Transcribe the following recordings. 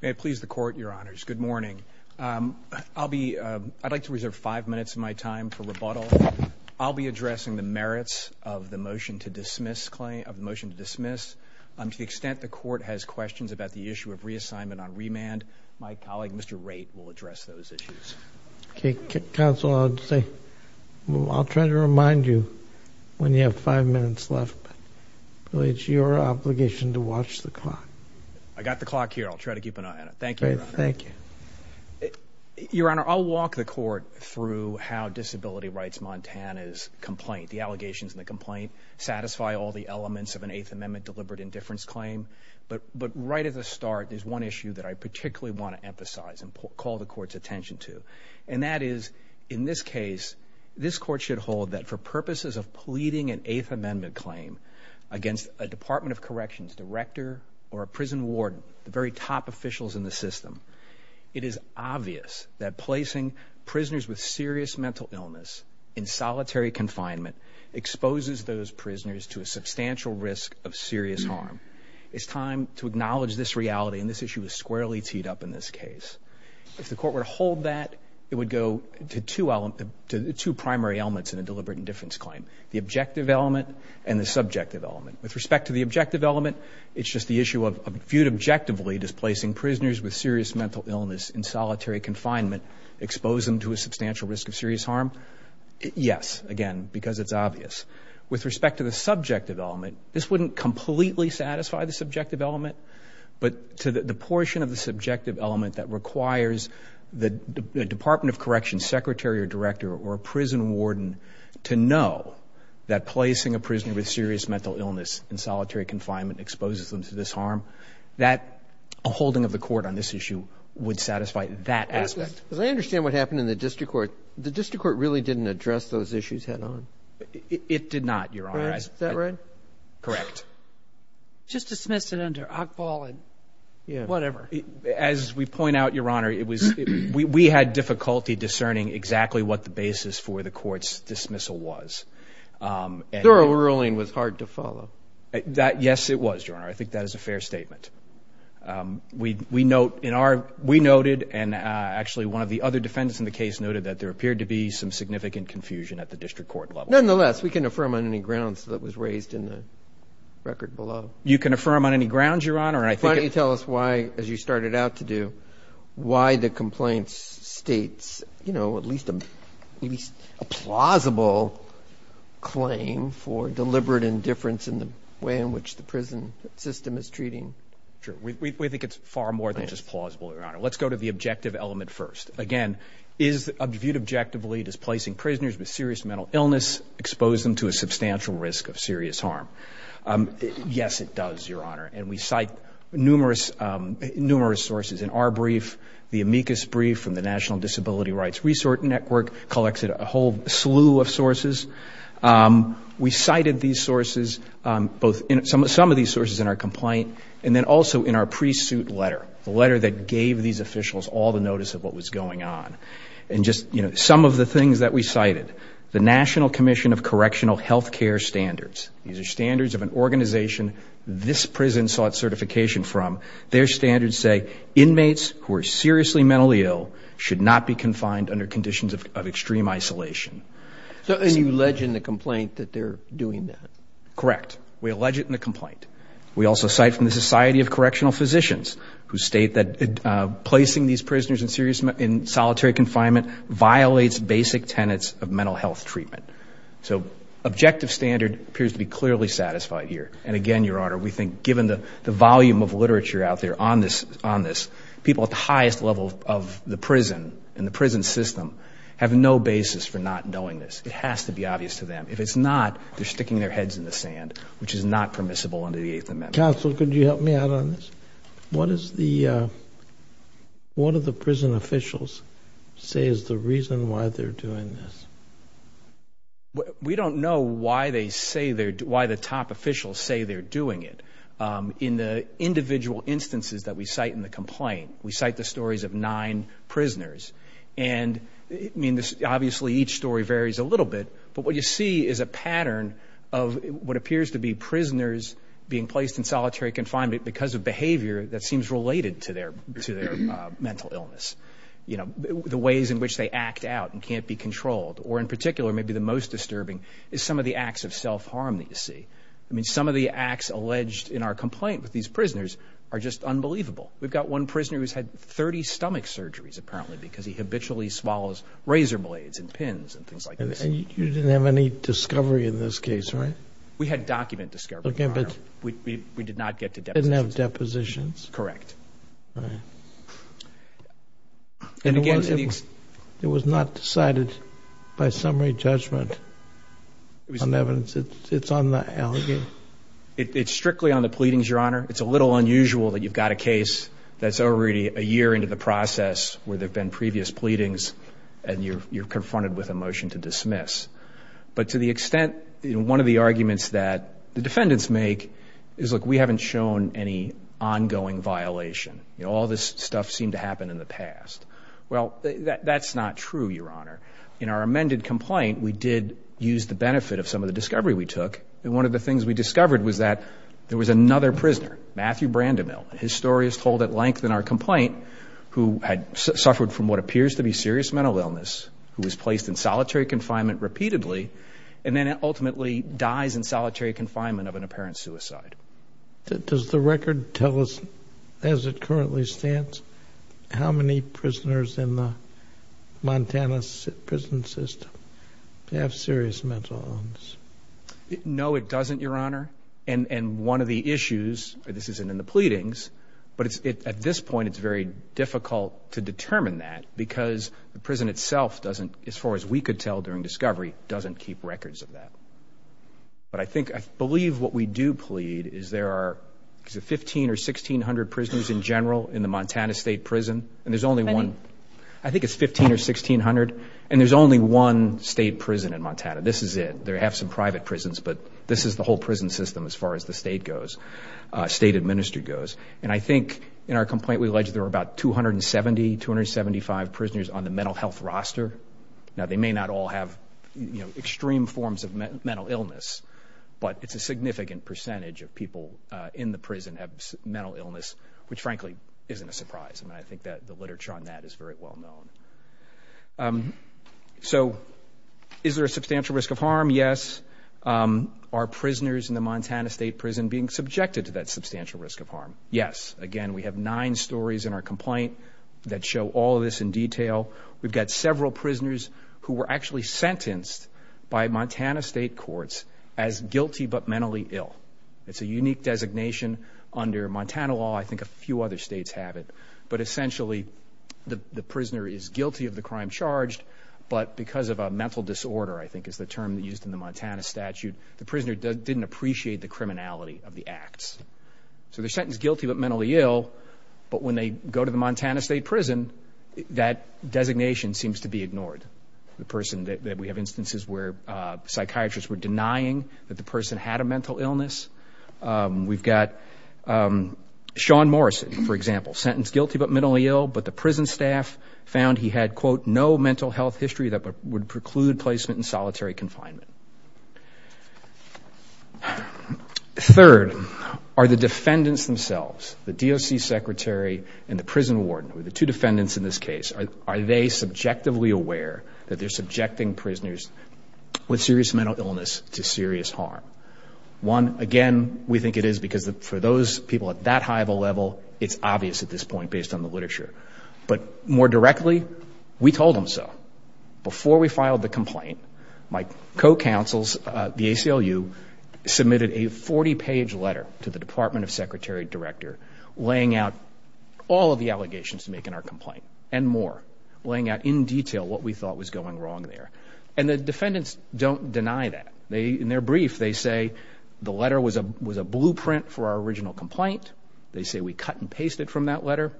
May it please the Court, Your Honors. Good morning. I'd like to reserve five minutes of my time for rebuttal. I'll be addressing the merits of the motion to dismiss. To the extent the Court has questions about the issue of reassignment on remand, my colleague Mr. Wright will address those issues. Counsel, I'll try to remind you when you have five minutes left. It's your obligation to watch the clock. I got the clock here. I'll try to keep an eye on it. Thank you. Thank you. Your Honor, I'll walk the Court through how Disability Rights Montana's complaint, the allegations in the complaint, satisfy all the elements of an Eighth Amendment deliberate indifference claim. But right at the start, there's one issue that I particularly want to emphasize and call the Court's attention to. And that is, in this case, this Court should hold that for purposes of pleading an Eighth Amendment claim against a Department of Corrections director or a prison warden, the very top officials in the system. It is obvious that placing prisoners with serious mental illness in solitary confinement exposes those prisoners to a substantial risk of serious harm. It's time to acknowledge this reality and this issue is squarely teed up in this case. If the Court were to hold that, it would go to two primary elements in a deliberate indifference claim, the objective element and the subjective element. With respect to the objective element, it's just the issue of viewed objectively, displacing prisoners with serious mental illness in solitary confinement expose them to a substantial risk of serious harm. Yes, again, because it's obvious. With respect to the subjective element, this wouldn't completely satisfy the subjective element, but to the portion of the subjective element that requires the Department of Corrections secretary or director or a prison warden to know that placing a prisoner with serious mental illness in solitary confinement exposes them to this harm, that a holding of the Court on this issue would satisfy that aspect. As I understand what happened in the district court, the district court really didn't address those issues head on. It did not, Your Honor. Is that right? Correct. Just dismissed it under Ockball and whatever. As we point out, Your Honor, we had difficulty discerning exactly what the basis for the court's dismissal was. Thorough ruling was hard to follow. Yes, it was, Your Honor. I think that is a fair statement. We noted and actually one of the other defendants in the case noted that there appeared to be some significant confusion at the district court level. Nonetheless, we can affirm on any grounds that was raised in the record below. You can affirm on any grounds, Your Honor. Why don't you tell us why, as you started out to do, why the complaints states, you know, at least a plausible claim for deliberate indifference in the way in which the prison system is treating. We think it's far more than just plausible, Your Honor. Let's go to the objective element first. Again, is viewed objectively as placing prisoners with serious mental illness expose them to a substantial risk of serious harm. Yes, it does, Your Honor. We cite numerous sources in our brief. The amicus brief from the National Disability Rights Resource Network collects a whole slew of sources. We cited these sources, some of these sources in our complaint and then also in our pre-suit letter, the letter that gave these officials all the notice of what was going on. Some of the things that we cited, the National Commission of Correctional Health Care Standards. These are standards of an organization this prison sought certification from. Their standards say, inmates who are seriously mentally ill should not be confined under conditions of extreme isolation. So you allege in the complaint that they're doing that? Correct. We allege it in the complaint. We also cite from the Society of Correctional Physicians who state that placing these prisoners in solitary confinement violates basic tenets of mental health treatment. So objective standard appears to be clearly satisfied here. And again, Your Honor, we think given the volume of literature out there on this, people at the highest level of the prison and the prison system have no basis for not knowing this. It has to be obvious to them. If it's not, they're sticking their heads in the sand, which is not permissible under the Eighth Amendment. Counsel, could you help me out on this? What is the, what do the prison officials say is the reason why they're doing this? We don't know why they say they're, why the top officials say they're doing it. In the individual instances that we cite in the complaint, we cite the stories of nine prisoners. And I mean, obviously, each story varies a little bit. But what you see is a pattern of what appears to be prisoners being placed in solitary confinement because of behavior that seems related to their mental illness. You know, the ways in which they act out and can't be controlled, or in particular, maybe the most disturbing is some of the acts of self-harm that you see. I mean, some of the acts alleged in our complaint with these prisoners are just unbelievable. We've got one prisoner who's had 30 stomach surgeries, apparently, because he habitually swallows razor blades and pins and things like this. And you didn't have any discovery in this case, right? We had document discovery, Your Honor. We did not get to depositions. You didn't have depositions? Correct. Right. And again, it was not decided by summary judgment on evidence. It's on the allegations? It's strictly on the pleadings, Your Honor. It's a little unusual that you've got a case that's already a year into the process where there have been previous pleadings, and you're confronted with a motion to dismiss. But to the extent, one of the arguments that the defendants make is, look, we haven't shown any ongoing violation. All this stuff seemed to happen in the past. Well, that's not true, Your Honor. In our amended complaint, we did use the benefit of some of the discovery we took. And one of the things we discovered was that there was another prisoner, Matthew Brandemil, his story is told at length in our complaint, who had suffered from what appears to be serious mental illness, who was placed in solitary confinement repeatedly, and then ultimately dies in solitary confinement of an apparent suicide. Does the record tell us, as it currently stands, how many prisoners in the Montana prison system have serious mental illness? No, it doesn't, Your Honor. And one of the issues, this isn't in the pleadings, but at this point, it's very difficult to tell. The prison itself doesn't, as far as we could tell during discovery, doesn't keep records of that. But I think, I believe what we do plead is there are 1,500 or 1,600 prisoners in general in the Montana State Prison, and there's only one, I think it's 1,500 or 1,600, and there's only one state prison in Montana. This is it. They have some private prisons, but this is the whole prison system as far as the state goes, state administered goes. And I think in our complaint, we alleged there were about 270, 275 prisoners on the mental health roster. Now, they may not all have, you know, extreme forms of mental illness, but it's a significant percentage of people in the prison have mental illness, which, frankly, isn't a surprise. I mean, I think that the literature on that is very well known. So is there a substantial risk of harm? Yes. Are prisoners in the Montana State Prison being subjected to that substantial risk of Yes. Again, we have nine stories in our complaint that show all of this in detail. We've got several prisoners who were actually sentenced by Montana State courts as guilty but mentally ill. It's a unique designation under Montana law. I think a few other states have it. But essentially, the prisoner is guilty of the crime charged, but because of a mental disorder, I think is the term used in the Montana statute, the prisoner didn't appreciate the criminality of the acts. So they're sentenced guilty but mentally ill, but when they go to the Montana State Prison, that designation seems to be ignored. The person that we have instances where psychiatrists were denying that the person had a mental illness. We've got Sean Morrison, for example, sentenced guilty but mentally ill, but the prison staff found he had, quote, no mental health history that would preclude placement in solitary confinement. Third, are the defendants themselves, the DOC secretary and the prison warden, the two defendants in this case, are they subjectively aware that they're subjecting prisoners with serious mental illness to serious harm? One, again, we think it is because for those people at that high of a level, it's obvious at this point based on the literature. But more directly, we told them so. Before we filed the complaint, my co-counsels, the ACLU, submitted a 40-page letter to the Department of Secretary Director laying out all of the allegations to make in our complaint and more, laying out in detail what we thought was going wrong there. And the defendants don't deny that. In their brief, they say the letter was a blueprint for our original complaint. They say we cut and pasted from that letter.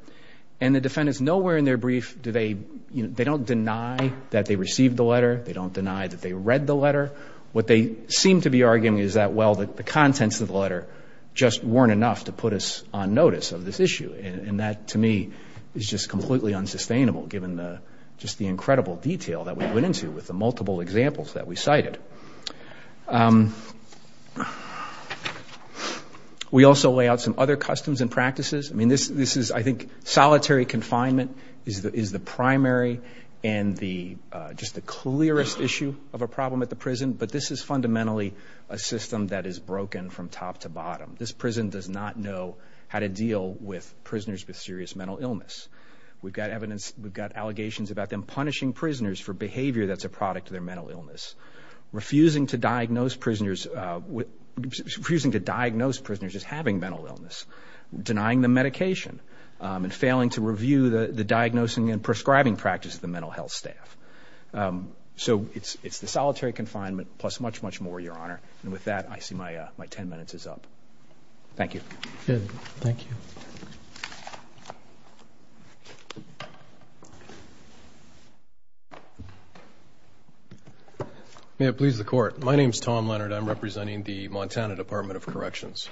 And the defendants, nowhere in their brief do they, you know, they don't deny that they received the letter. They don't deny that they read the letter. What they seem to be arguing is that, well, the contents of the letter just weren't enough to put us on notice of this issue. And that, to me, is just completely unsustainable given the, just the incredible detail that we went into with the multiple examples that we cited. We also lay out some other customs and practices. I mean, this is, I think, solitary confinement is the primary and the, just the clearest issue of a problem at the prison. But this is fundamentally a system that is broken from top to bottom. This prison does not know how to deal with prisoners with serious mental illness. We've got evidence, we've got allegations about them punishing prisoners for behavior that's a product of their mental illness, refusing to diagnose prisoners as having mental illness, denying them medication, and failing to review the diagnosing and prescribing practice of the mental health staff. So it's the solitary confinement plus much, much more, Your Honor. And with that, I see my ten minutes is up. Thank you. Thank you. May it please the Court. My name is Tom Leonard. I'm representing the Montana Department of Corrections.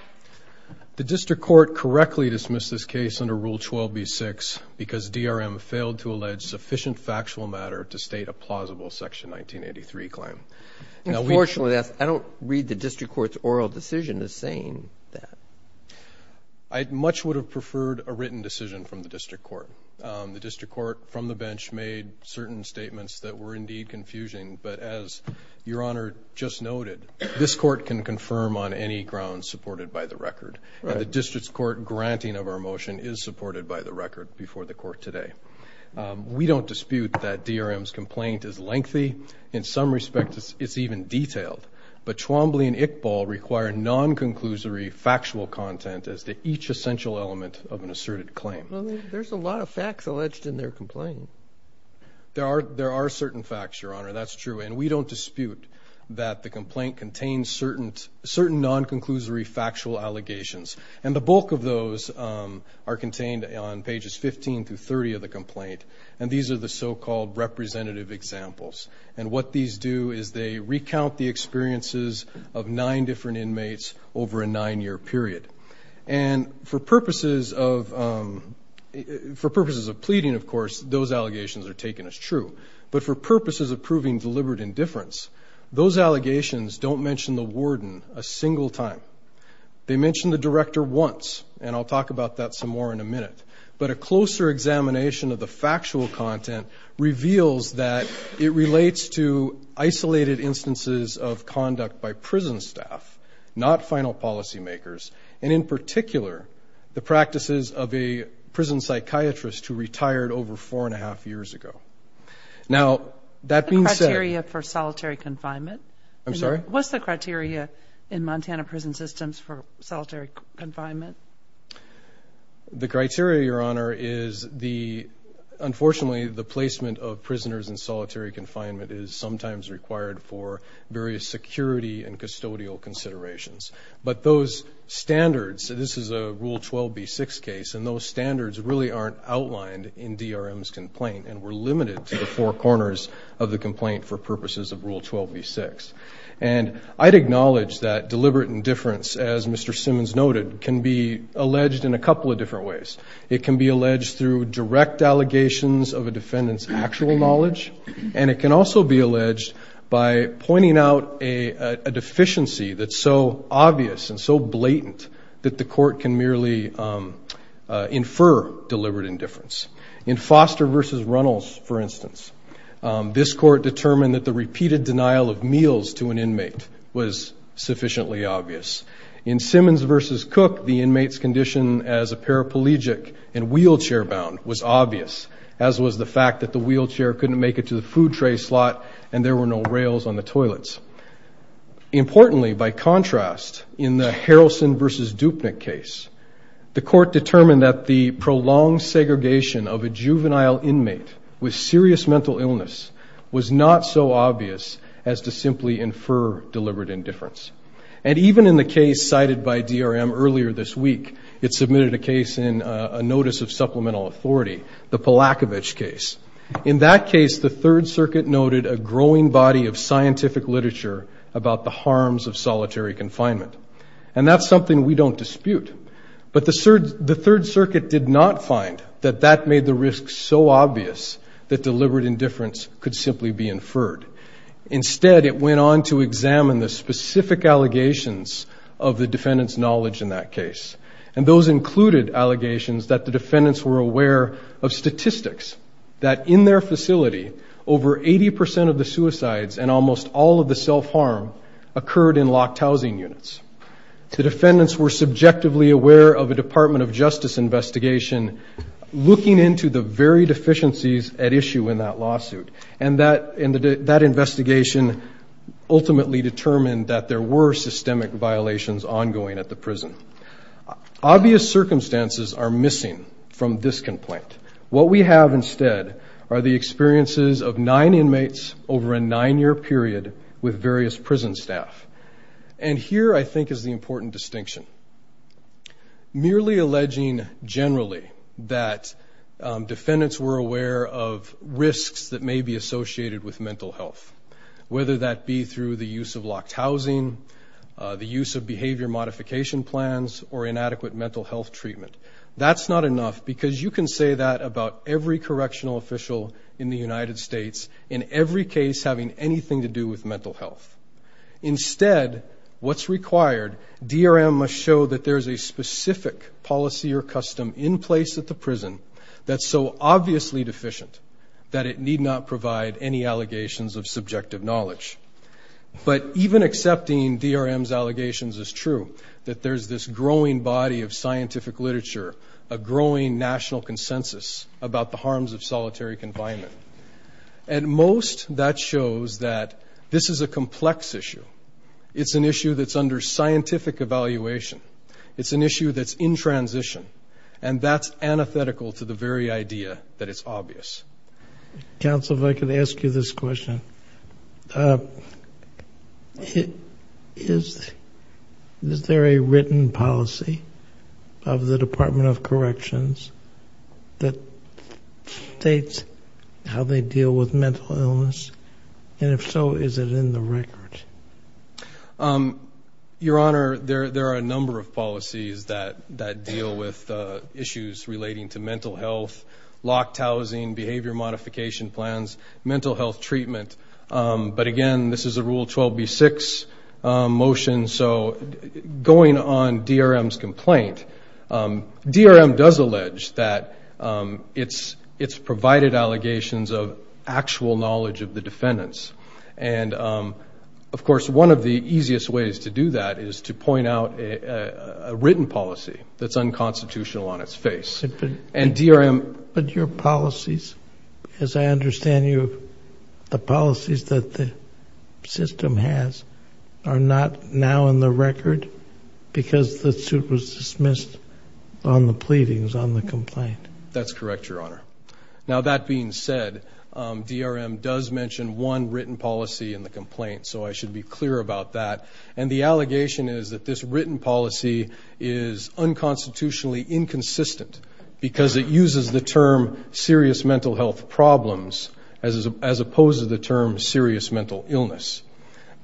The district court correctly dismissed this case under Rule 12b-6 because DRM failed to allege sufficient factual matter to state a plausible Section 1983 claim. Unfortunately, I don't read the district court's oral decision as saying that. I much would have preferred a written decision from the district court. The district court from the bench made certain statements that were indeed confusing. But as Your Honor just noted, this court can confirm on any grounds supported by the record. And the district court granting of our motion is supported by the record before the court today. We don't dispute that DRM's complaint is lengthy. In some respects, it's even detailed. But Twombly and Iqbal require non-conclusory factual content as to each essential element of an asserted claim. Well, there's a lot of facts alleged in their complaint. There are certain facts, Your Honor. That's true. And we don't dispute that the complaint contains certain non-conclusory factual allegations. And the bulk of those are contained on pages 15 through 30 of the complaint. And these are the so-called representative examples. And what these do is they recount the experiences of nine different inmates over a nine-year period. And for purposes of pleading, of course, those allegations are taken as true. But for purposes of proving deliberate indifference, those allegations don't mention the warden a single time. They mention the director once. And I'll talk about that some more in a minute. But a closer examination of the factual content reveals that it relates to isolated instances of conduct by prison staff, not final policy makers, and in particular, the practices of a prison psychiatrist who retired over four-and-a-half years ago. Now, that being said – The criteria for solitary confinement? I'm sorry? What's the criteria in Montana prison systems for solitary confinement? The criteria, Your Honor, is the – unfortunately, the placement of prisoners in solitary confinement is sometimes required for various security and custodial considerations. But those standards – this is a Rule 12b-6 case, and those standards really aren't outlined in DRM's complaint and were limited to the four corners of the complaint for purposes of Rule 12b-6. And I'd acknowledge that deliberate indifference, as Mr. Simmons noted, can be alleged in a couple of different ways. It can be alleged through direct allegations of a defendant's actual knowledge, and it can also be alleged by pointing out a deficiency that's so obvious and so blatant that the court can merely infer deliberate indifference. In Foster v. Runnels, for instance, this court determined that the repeated denial of meals to an inmate was sufficiently obvious. In Simmons v. Cook, the inmate's condition as a paraplegic and wheelchair-bound was obvious, as was the fact that the wheelchair couldn't make it to the food tray slot and there were no rails on the toilets. Importantly, by contrast, in the Harrelson v. Dupnick case, the court determined that the prolonged segregation of a juvenile inmate with serious mental illness was not so obvious as to simply infer deliberate indifference. And even in the case cited by DRM earlier this week, it submitted a case in a notice of supplemental authority, the Palakovich case. In that case, the Third Circuit noted a growing body of scientific literature about the harms of solitary confinement, and that's something we don't dispute. But the Third Circuit did not find that that made the risk so obvious that deliberate indifference could simply be inferred. Instead, it went on to examine the specific allegations of the defendant's knowledge in that case, and those included allegations that the defendants were aware of statistics that in their facility over 80% of the suicides and almost all of the self-harm occurred in locked housing units. The defendants were subjectively aware of a Department of Justice investigation looking into the very deficiencies at issue in that lawsuit, and that investigation ultimately determined that there were systemic violations ongoing at the prison. Obvious circumstances are missing from this complaint. What we have instead are the experiences of nine inmates over a nine-year period with various prison staff. And here, I think, is the important distinction. Merely alleging generally that defendants were aware of risks that may be associated with mental health, whether that be through the use of locked housing, the use of behavior modification plans, or inadequate mental health treatment. That's not enough because you can say that about every correctional official in the United States in every case having anything to do with mental health. Instead, what's required, DRM must show that there's a specific policy or custom in place at the prison that's so obviously deficient that it need not provide any allegations of subjective knowledge. But even accepting DRM's allegations is true, that there's this growing body of scientific literature, a growing national consensus about the harms of solitary confinement. At most, that shows that this is a complex issue. It's an issue that's under scientific evaluation. It's an issue that's in transition, and that's antithetical to the very idea that it's obvious. Counsel, if I could ask you this question. Is there a written policy of the Department of Corrections that states how they deal with mental illness? And if so, is it in the record? Your Honor, there are a number of policies that deal with issues relating to mental health, locked housing, behavior modification plans, mental health treatment. But, again, this is a Rule 12b-6 motion. So going on DRM's complaint, DRM does allege that it's provided allegations of actual knowledge of the defendants. And, of course, one of the easiest ways to do that is to point out a written policy that's unconstitutional on its face. But your policies, as I understand you, the policies that the system has are not now in the record because the suit was dismissed on the pleadings on the complaint. That's correct, Your Honor. Now, that being said, DRM does mention one written policy in the complaint, so I should be clear about that. And the allegation is that this written policy is unconstitutionally inconsistent because it uses the term serious mental health problems as opposed to the term serious mental illness.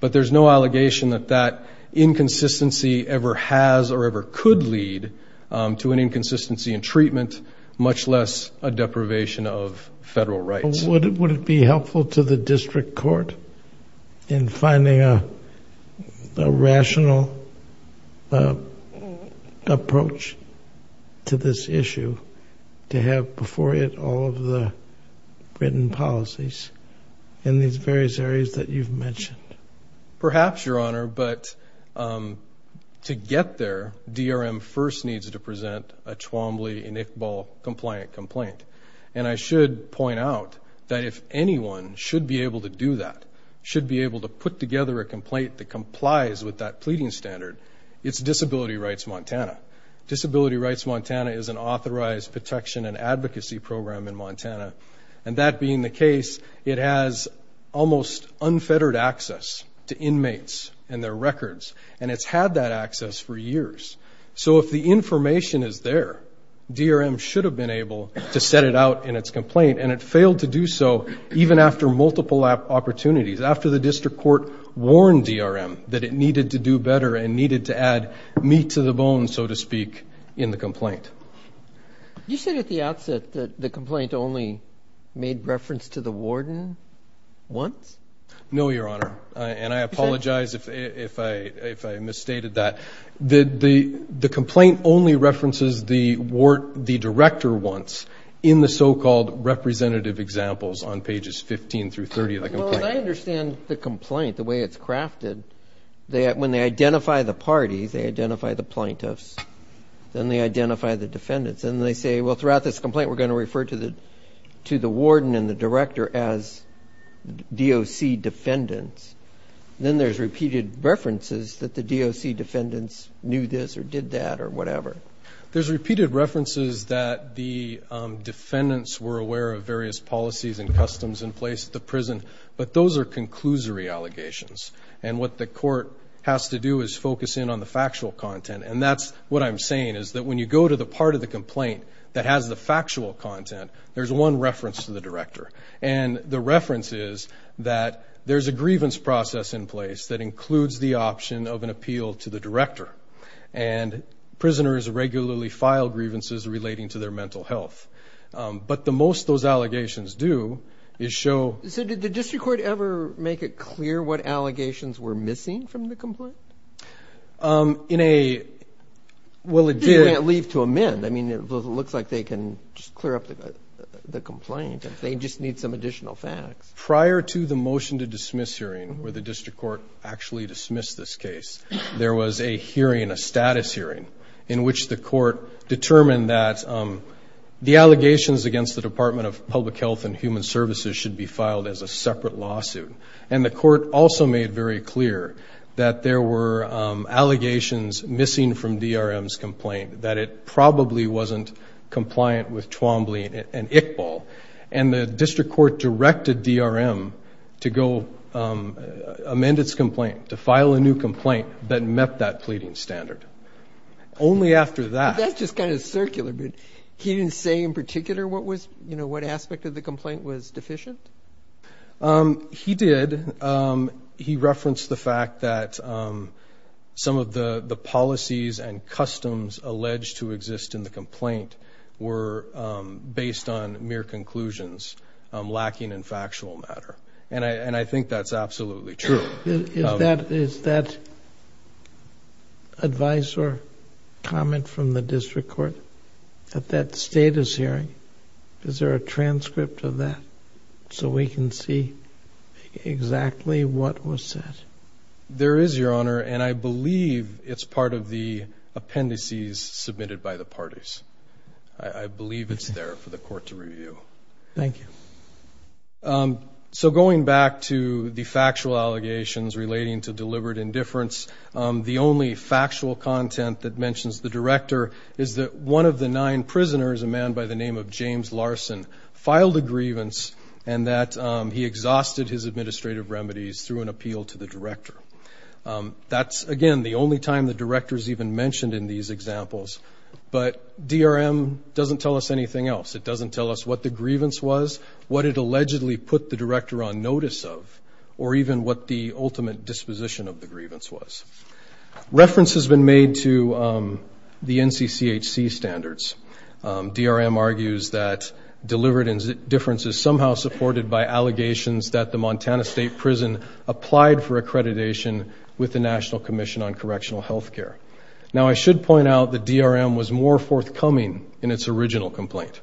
But there's no allegation that that inconsistency ever has or ever could lead to an inconsistency in treatment, much less a deprivation of federal rights. So would it be helpful to the district court in finding a rational approach to this issue to have before it all of the written policies in these various areas that you've mentioned? Perhaps, Your Honor, but to get there, DRM first needs to present a Chwambli and Iqbal-compliant complaint. And I should point out that if anyone should be able to do that, should be able to put together a complaint that complies with that pleading standard, it's Disability Rights Montana. Disability Rights Montana is an authorized protection and advocacy program in Montana. And that being the case, it has almost unfettered access to inmates and their records, and it's had that access for years. So if the information is there, DRM should have been able to set it out in its complaint, and it failed to do so even after multiple opportunities, after the district court warned DRM that it needed to do better and needed to add meat to the bone, so to speak, in the complaint. You said at the outset that the complaint only made reference to the warden once? No, Your Honor, and I apologize if I misstated that. The complaint only references the director once in the so-called representative examples on pages 15 through 30 of the complaint. Well, I understand the complaint, the way it's crafted. When they identify the parties, they identify the plaintiffs, then they identify the defendants, and they say, well, throughout this complaint we're going to refer to the warden and the director as DOC defendants. Then there's repeated references that the DOC defendants knew this or did that or whatever. There's repeated references that the defendants were aware of various policies and customs in place at the prison, but those are conclusory allegations, and what the court has to do is focus in on the factual content, and that's what I'm saying is that when you go to the part of the complaint that has the factual content, there's one reference to the director, and the reference is that there's a grievance process in place that includes the option of an appeal to the director, and prisoners regularly file grievances relating to their mental health. But most of those allegations do is show. So did the district court ever make it clear what allegations were missing from the complaint? Well, it did. They can't leave to amend. I mean, it looks like they can just clear up the complaint. They just need some additional facts. Prior to the motion to dismiss hearing where the district court actually dismissed this case, there was a hearing, a status hearing, in which the court determined that the allegations against the Department of Public Health and Human Services should be filed as a separate lawsuit, and the court also made very clear that there were allegations missing from DRM's complaint, that it probably wasn't compliant with Twombly and Iqbal, and the district court directed DRM to go amend its complaint, to file a new complaint that met that pleading standard. Only after that. That's just kind of circular, but he didn't say in particular what was, you know, what aspect of the complaint was deficient? He did. He referenced the fact that some of the policies and customs alleged to exist in the complaint were based on mere conclusions, lacking in factual matter, and I think that's absolutely true. Is that advice or comment from the district court at that status hearing, is there a transcript of that so we can see exactly what was said? There is, Your Honor, and I believe it's part of the appendices submitted by the parties. I believe it's there for the court to review. Thank you. So going back to the factual allegations relating to deliberate indifference, the only factual content that mentions the director is that one of the nine prisoners, a man by the name of James Larson, filed a grievance and that he exhausted his administrative remedies through an appeal to the director. That's, again, the only time the director is even mentioned in these examples, but DRM doesn't tell us anything else. It doesn't tell us what the grievance was, what it allegedly put the director on notice of, or even what the ultimate disposition of the grievance was. Reference has been made to the NCCHC standards. DRM argues that deliberate indifference is somehow supported by allegations that the Montana State Prison applied for accreditation with the National Commission on Correctional Health Care. Now, I should point out that DRM was more forthcoming in its original complaint.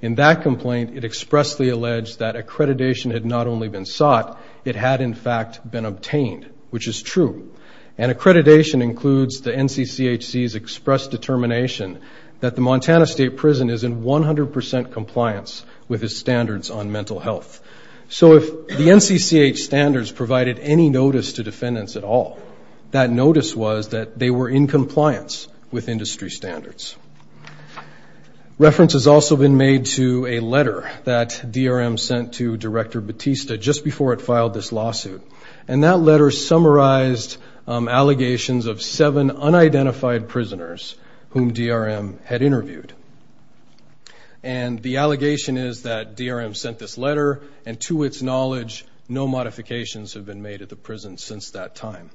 In that complaint, it expressly alleged that accreditation had not only been sought, it had, in fact, been obtained, which is true. And accreditation includes the NCCHC's expressed determination that the Montana State Prison is in 100 percent compliance with its standards on mental health. So if the NCCH standards provided any notice to defendants at all, that notice was that they were in compliance with industry standards. Reference has also been made to a letter that DRM sent to Director Batista just before it filed this lawsuit. And that letter summarized allegations of seven unidentified prisoners whom DRM had interviewed. And the allegation is that DRM sent this letter, and to its knowledge no modifications have been made at the prison since that time.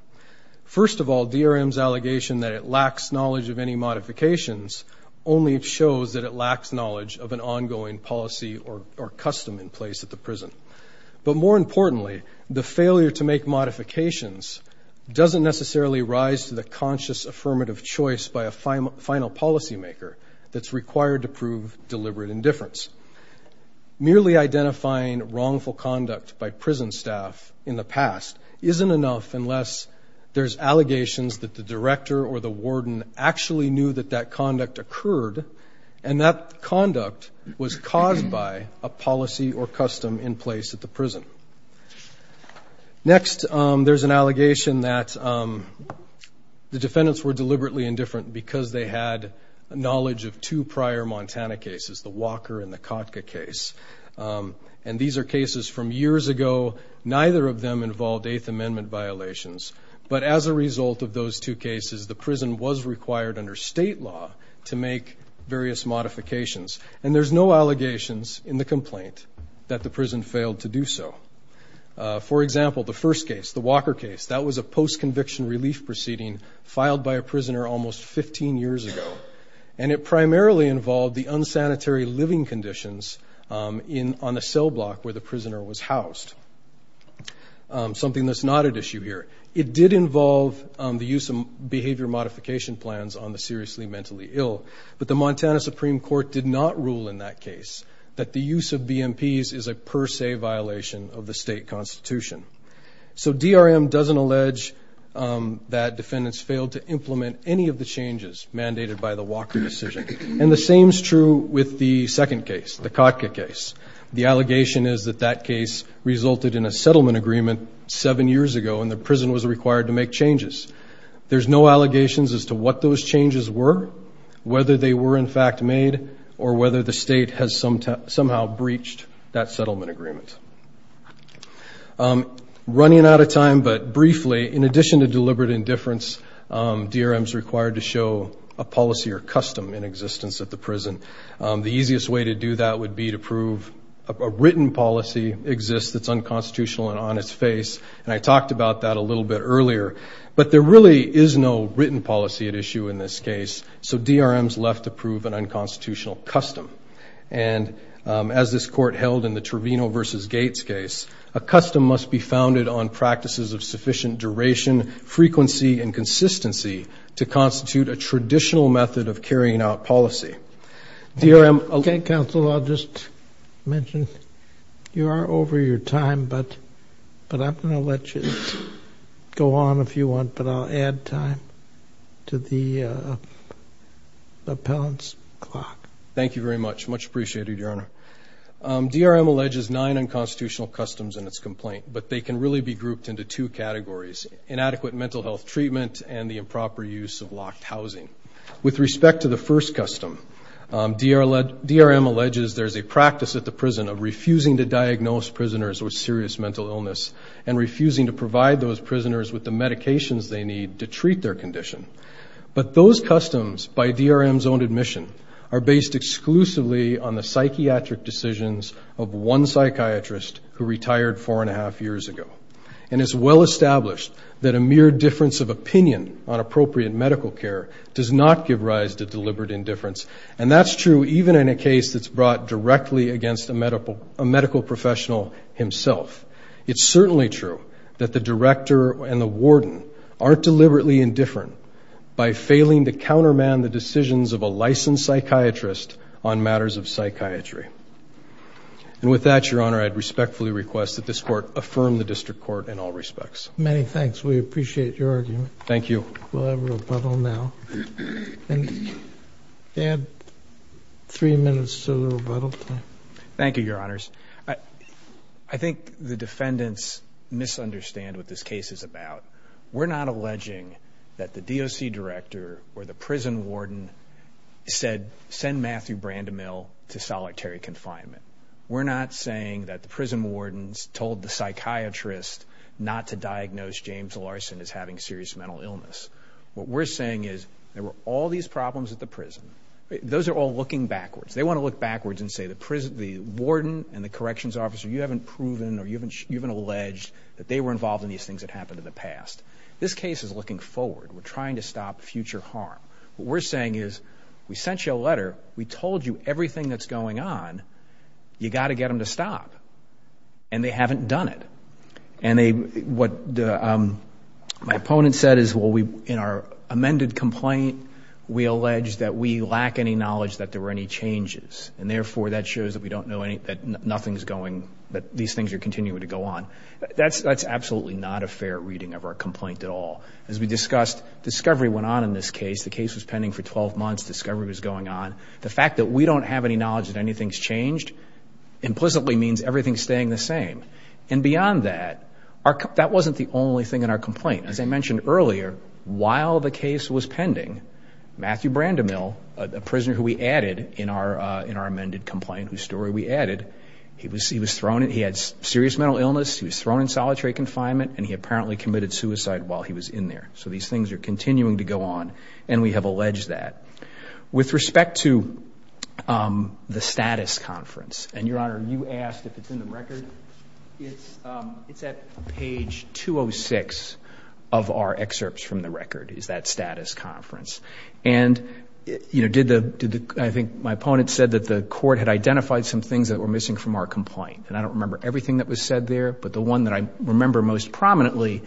First of all, DRM's allegation that it lacks knowledge of any modifications only shows that it lacks knowledge of an ongoing policy or custom in place at the prison. But more importantly, the failure to make modifications doesn't necessarily rise to the conscious affirmative choice by a final policymaker that's required to prove deliberate indifference. Merely identifying wrongful conduct by prison staff in the past isn't enough unless there's allegations that the director or the warden actually knew that that conduct occurred, and that conduct was caused by a policy or custom in place at the prison. Next, there's an allegation that the defendants were deliberately indifferent because they had knowledge of two prior Montana cases, the Walker and the Kotka case. And these are cases from years ago. Neither of them involved Eighth Amendment violations. But as a result of those two cases, the prison was required under state law to make various modifications. And there's no allegations in the complaint that the prison failed to do so. For example, the first case, the Walker case, that was a post-conviction relief proceeding filed by a prisoner almost 15 years ago, and it primarily involved the unsanitary living conditions on a cell block where the prisoner was housed, something that's not at issue here. It did involve the use of behavior modification plans on the seriously mentally ill, but the Montana Supreme Court did not rule in that case that the use of BMPs is a per se violation of the state constitution. So DRM doesn't allege that defendants failed to implement any of the changes mandated by the Walker decision. And the same is true with the second case, the Kotka case. The allegation is that that case resulted in a settlement agreement seven years ago, and the prison was required to make changes. There's no allegations as to what those changes were, whether they were, in fact, made, or whether the state has somehow breached that settlement agreement. Running out of time, but briefly, in addition to deliberate indifference, DRM is required to show a policy or custom in existence at the prison. The easiest way to do that would be to prove a written policy exists that's unconstitutional and on its face, and I talked about that a little bit earlier. But there really is no written policy at issue in this case, so DRM is left to prove an unconstitutional custom. And as this court held in the Trevino v. Gates case, a custom must be founded on practices of sufficient duration, frequency, and consistency to constitute a traditional method of carrying out policy. DRM. Okay, counsel, I'll just mention you are over your time, but I'm going to let you go on if you want, but I'll add time to the appellant's clock. Thank you very much. Much appreciated, Your Honor. DRM alleges nine unconstitutional customs in its complaint, but they can really be grouped into two categories, inadequate mental health treatment and the improper use of locked housing. With respect to the first custom, DRM alleges there's a practice at the prison of refusing to diagnose prisoners with serious mental illness and refusing to provide those prisoners with the medications they need to treat their condition. But those customs, by DRM's own admission, are based exclusively on the psychiatric decisions of one psychiatrist who retired four and a half years ago. And it's well established that a mere difference of opinion on appropriate medical care does not give rise to deliberate indifference, and that's true even in a case that's brought directly against a medical professional himself. It's certainly true that the director and the warden aren't deliberately indifferent by failing to counterman the decisions of a licensed psychiatrist on matters of psychiatry. And with that, Your Honor, I'd respectfully request that this Court affirm the district court in all respects. Many thanks. We appreciate your argument. Thank you. We'll have rebuttal now. And add three minutes to the rebuttal time. Thank you, Your Honors. I think the defendants misunderstand what this case is about. We're not alleging that the DOC director or the prison warden said, send Matthew Brandemil to solitary confinement. We're not saying that the prison wardens told the psychiatrist not to diagnose James Larson as having serious mental illness. What we're saying is there were all these problems at the prison. Those are all looking backwards. They want to look backwards and say the warden and the corrections officer, you haven't proven or you haven't alleged that they were involved in these things that happened in the past. This case is looking forward. We're trying to stop future harm. What we're saying is we sent you a letter. We told you everything that's going on. You've got to get them to stop. And they haven't done it. And what my opponent said is, well, in our amended complaint, we allege that we lack any knowledge that there were any changes, and therefore that shows that we don't know that nothing's going, that these things are continuing to go on. That's absolutely not a fair reading of our complaint at all. As we discussed, discovery went on in this case. The case was pending for 12 months. Discovery was going on. The fact that we don't have any knowledge that anything's changed implicitly means everything's staying the same. And beyond that, that wasn't the only thing in our complaint. As I mentioned earlier, while the case was pending, Matthew Brandemil, a prisoner who we added in our amended complaint, whose story we added, he was thrown in. He had serious mental illness. He was thrown in solitary confinement, and he apparently committed suicide while he was in there. So these things are continuing to go on, and we have alleged that. With respect to the status conference, and, Your Honor, you asked if it's in the record. It's at page 206 of our excerpts from the record is that status conference. And, you know, I think my opponent said that the court had identified some things that were missing from our complaint. And I don't remember everything that was said there, but the one that I remember most prominently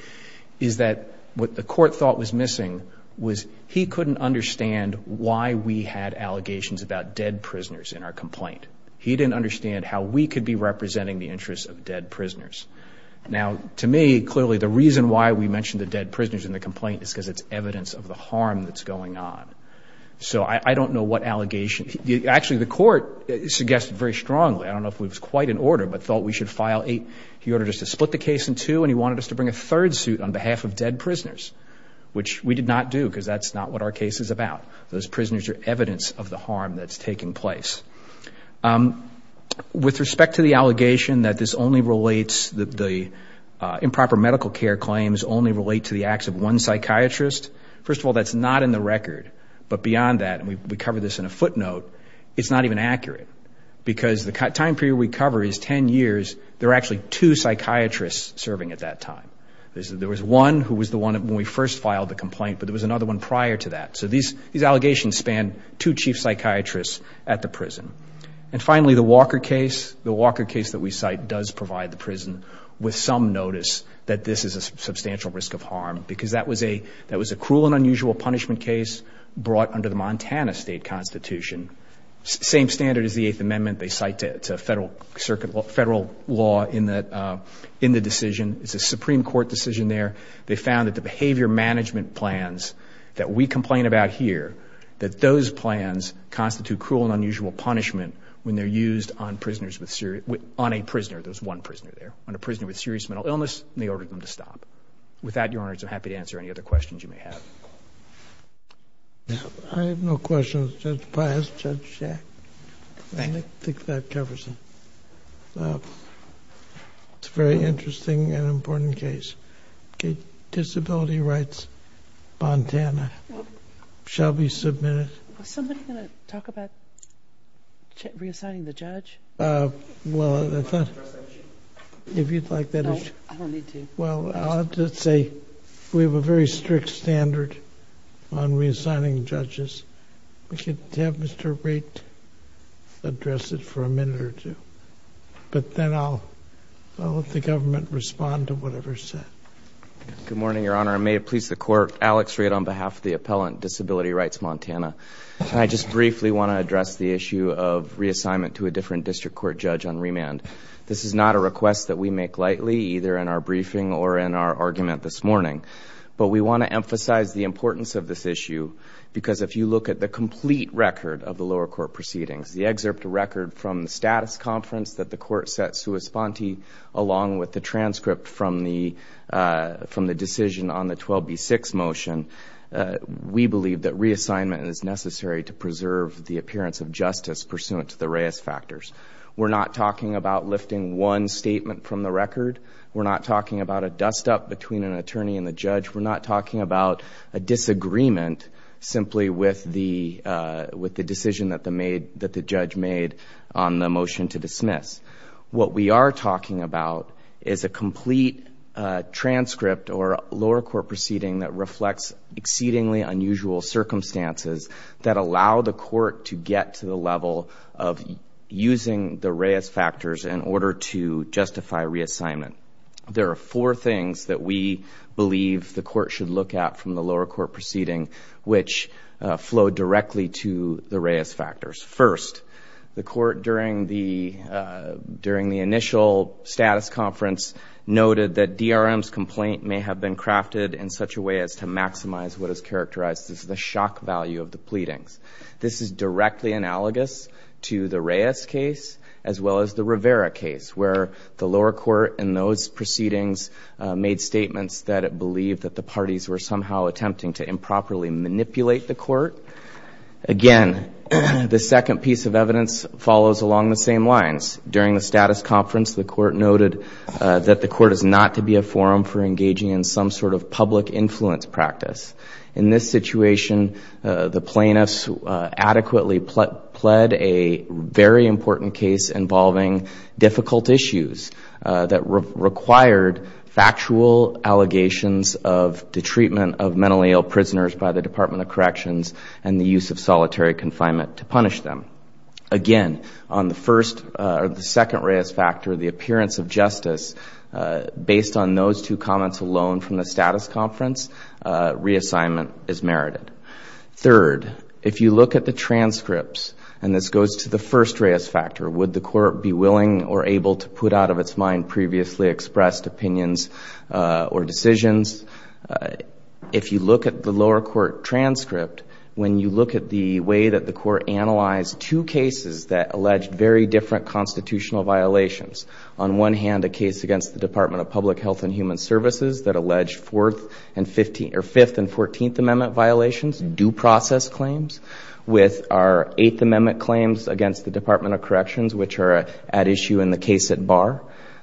is that what the court thought was missing was he couldn't understand why we had allegations about dead prisoners in our complaint. He didn't understand how we could be representing the interests of dead prisoners. Now, to me, clearly, the reason why we mentioned the dead prisoners in the complaint is because it's evidence of the harm that's going on. So I don't know what allegation. Actually, the court suggested very strongly, I don't know if it was quite in order, but thought we should file eight. He ordered us to split the case in two, and he wanted us to bring a third suit on behalf of dead prisoners, which we did not do because that's not what our case is about. Those prisoners are evidence of the harm that's taking place. With respect to the allegation that this only relates, that the improper medical care claims only relate to the acts of one psychiatrist, first of all, that's not in the record. But beyond that, and we cover this in a footnote, it's not even accurate because the time period we cover is ten years. There are actually two psychiatrists serving at that time. There was one who was the one when we first filed the complaint, but there was another one prior to that. So these allegations span two chief psychiatrists at the prison. And finally, the Walker case. The Walker case that we cite does provide the prison with some notice that this is a substantial risk of harm because that was a cruel and unusual punishment case brought under the Montana State Constitution. Same standard as the Eighth Amendment. It's a federal law in the decision. It's a Supreme Court decision there. They found that the behavior management plans that we complain about here, that those plans constitute cruel and unusual punishment when they're used on prisoners with serious, on a prisoner, there's one prisoner there, on a prisoner with serious mental illness, and they ordered them to stop. With that, Your Honor, I'm so happy to answer any other questions you may have. I have no questions. Judge Pius, Judge Shack, I think that covers it. It's a very interesting and important case. Disability Rights, Montana. Shall we submit it? Was somebody going to talk about reassigning the judge? Well, I thought if you'd like that. No, I don't need to. Well, I'll just say we have a very strict standard on reassigning judges. We could have Mr. Raitt address it for a minute or two, but then I'll let the government respond to whatever's said. Good morning, Your Honor. I may have pleased the Court. Alex Raitt on behalf of the appellant, Disability Rights, Montana. I just briefly want to address the issue of reassignment to a different district court judge on remand. This is not a request that we make lightly, either in our briefing or in our argument this morning, but we want to emphasize the importance of this issue, because if you look at the complete record of the lower court proceedings, the excerpt of record from the status conference that the court set sua sponte, along with the transcript from the decision on the 12B6 motion, we believe that reassignment is necessary to preserve the appearance of justice pursuant to the Reyes factors. We're not talking about lifting one statement from the record. We're not talking about a dust-up between an attorney and the judge. We're not talking about a disagreement simply with the decision that the judge made on the motion to dismiss. What we are talking about is a complete transcript or lower court proceeding that reflects exceedingly unusual circumstances that allow the court to get to the level of using the Reyes factors in order to justify reassignment. There are four things that we believe the court should look at from the lower court proceeding, which flow directly to the Reyes factors. First, the court, during the initial status conference, noted that DRM's complaint may have been crafted in such a way as to maximize what is characterized as the shock value of the pleadings. This is directly analogous to the Reyes case as well as the Rivera case, where the lower court in those proceedings made statements that it believed that the parties were somehow attempting to improperly manipulate the court. Again, the second piece of evidence follows along the same lines. During the status conference, the court noted that the court is not to be a forum for engaging in some sort of public influence practice. In this situation, the plaintiffs adequately pled a very important case involving difficult issues that required factual allegations of the treatment of mentally ill prisoners by the Department of Corrections and the use of solitary confinement to punish them. Again, on the second Reyes factor, the appearance of justice, based on those two comments alone from the status conference, reassignment is merited. Third, if you look at the transcripts, and this goes to the first Reyes factor, would the court be willing or able to put out of its mind previously expressed opinions or decisions? If you look at the lower court transcript, when you look at the way that the court analyzed two cases that alleged very different constitutional violations, on one hand a case against the Department of Public Health and Human Services that alleged Fifth and Fourteenth Amendment violations, due process claims, with our Eighth Amendment claims against the Department of Corrections, which are at issue in the case at bar,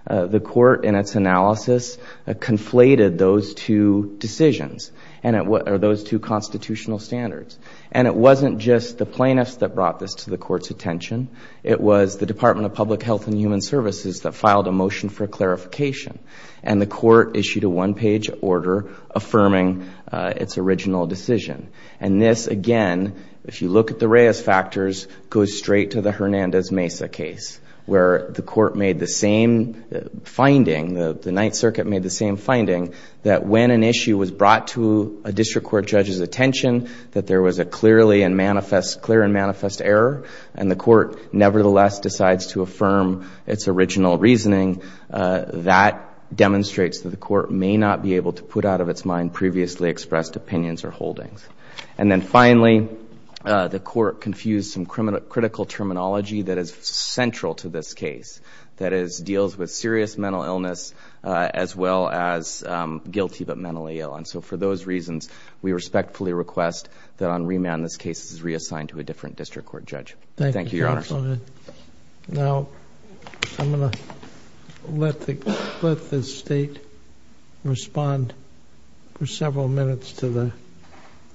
the court in its analysis conflated those two decisions or those two constitutional standards. And it wasn't just the plaintiffs that brought this to the court's attention. It was the Department of Public Health and Human Services that filed a motion for clarification, and the court issued a one-page order affirming its original decision. And this, again, if you look at the Reyes factors, goes straight to the Hernandez Mesa case, where the court made the same finding, the Ninth Circuit made the same finding, that when an issue was brought to a district court judge's attention, that there was a clear and manifest error, and the court nevertheless decides to affirm its original reasoning, that demonstrates that the court may not be able to put out of its mind previously expressed opinions or holdings. And then finally, the court confused some critical terminology that is central to this case, that deals with serious mental illness as well as guilty but mentally ill. And so for those reasons, we respectfully request that on remand this case is reassigned to a different district court judge. Thank you, Your Honor. Thank you, Counsel. Now, I'm going to let the State respond for several minutes to the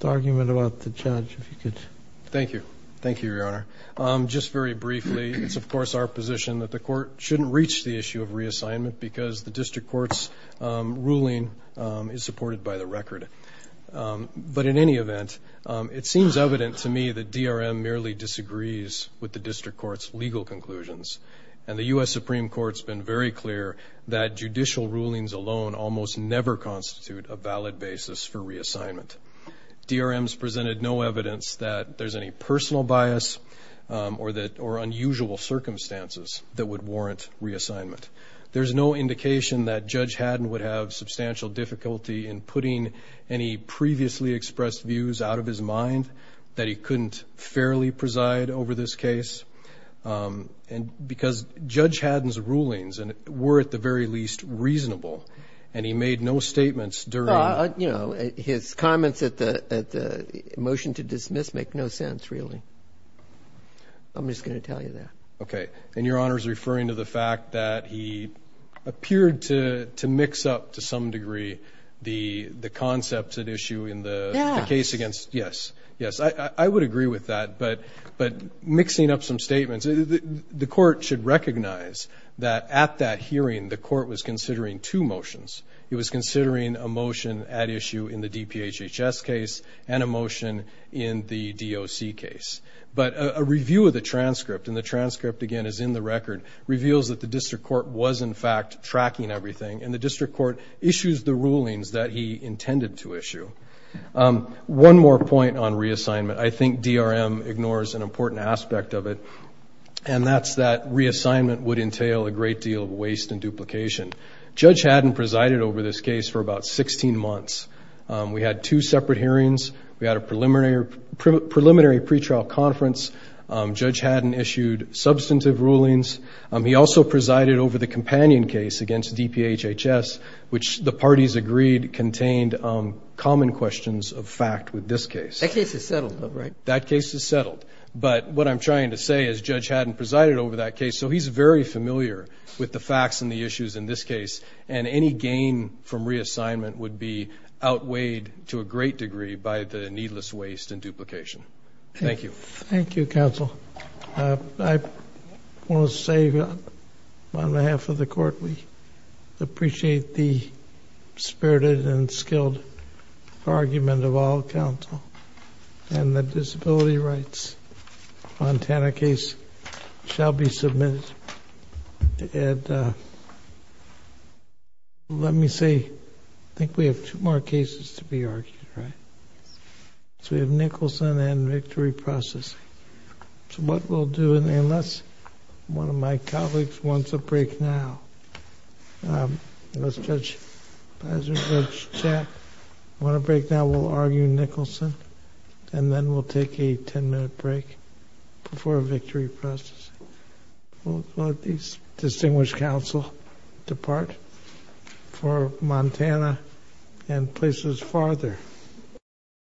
argument about the judge, if you could. Thank you. Thank you, Your Honor. Just very briefly, it's, of course, our position that the court shouldn't reach the issue of reassignment because the district court's ruling is supported by the record. But in any event, it seems evident to me that DRM merely disagrees with the district court's legal conclusions, and the U.S. Supreme Court's been very clear that judicial rulings alone almost never constitute a valid basis for reassignment. DRM's presented no evidence that there's any personal bias or unusual circumstances that would warrant reassignment. There's no indication that Judge Haddon would have substantial difficulty in putting any previously expressed views out of his mind, that he couldn't fairly preside over this case because Judge Haddon's rulings were, at the very least, reasonable, and he made no statements during the hearing. His comments at the motion to dismiss make no sense, really. I'm just going to tell you that. Okay. And Your Honor's referring to the fact that he appeared to mix up, to some degree, the concepts at issue in the case against. Yes. Yes. I would agree with that. But mixing up some statements, the court should recognize that at that hearing, the court was considering two motions. It was considering a motion at issue in the DPHHS case and a motion in the DOC case. But a review of the transcript, and the transcript, again, is in the record, reveals that the district court was, in fact, tracking everything, and the district court issues the rulings that he intended to issue. One more point on reassignment. I think DRM ignores an important aspect of it, and that's that reassignment would entail a great deal of waste and duplication. Judge Haddon presided over this case for about 16 months. We had two separate hearings. We had a preliminary pretrial conference. Judge Haddon issued substantive rulings. He also presided over the companion case against DPHHS, which the parties agreed contained common questions of fact with this case. That case is settled, though, right? That case is settled. But what I'm trying to say is Judge Haddon presided over that case, so he's very familiar with the facts and the issues in this case, and any gain from reassignment would be outweighed to a great degree by the needless waste and duplication. Thank you. Thank you, counsel. I want to say on behalf of the court we appreciate the spirited and skilled argument of all counsel, and the disability rights Montana case shall be submitted. And let me say I think we have two more cases to be argued, right? Yes. So we have Nicholson and victory process. So what we'll do, and unless one of my colleagues wants a break now, let's judge Pizer, Judge Chapp, want a break now, we'll argue Nicholson, and then we'll take a ten-minute break before victory process. We'll let these distinguished counsel depart for Montana and places farther.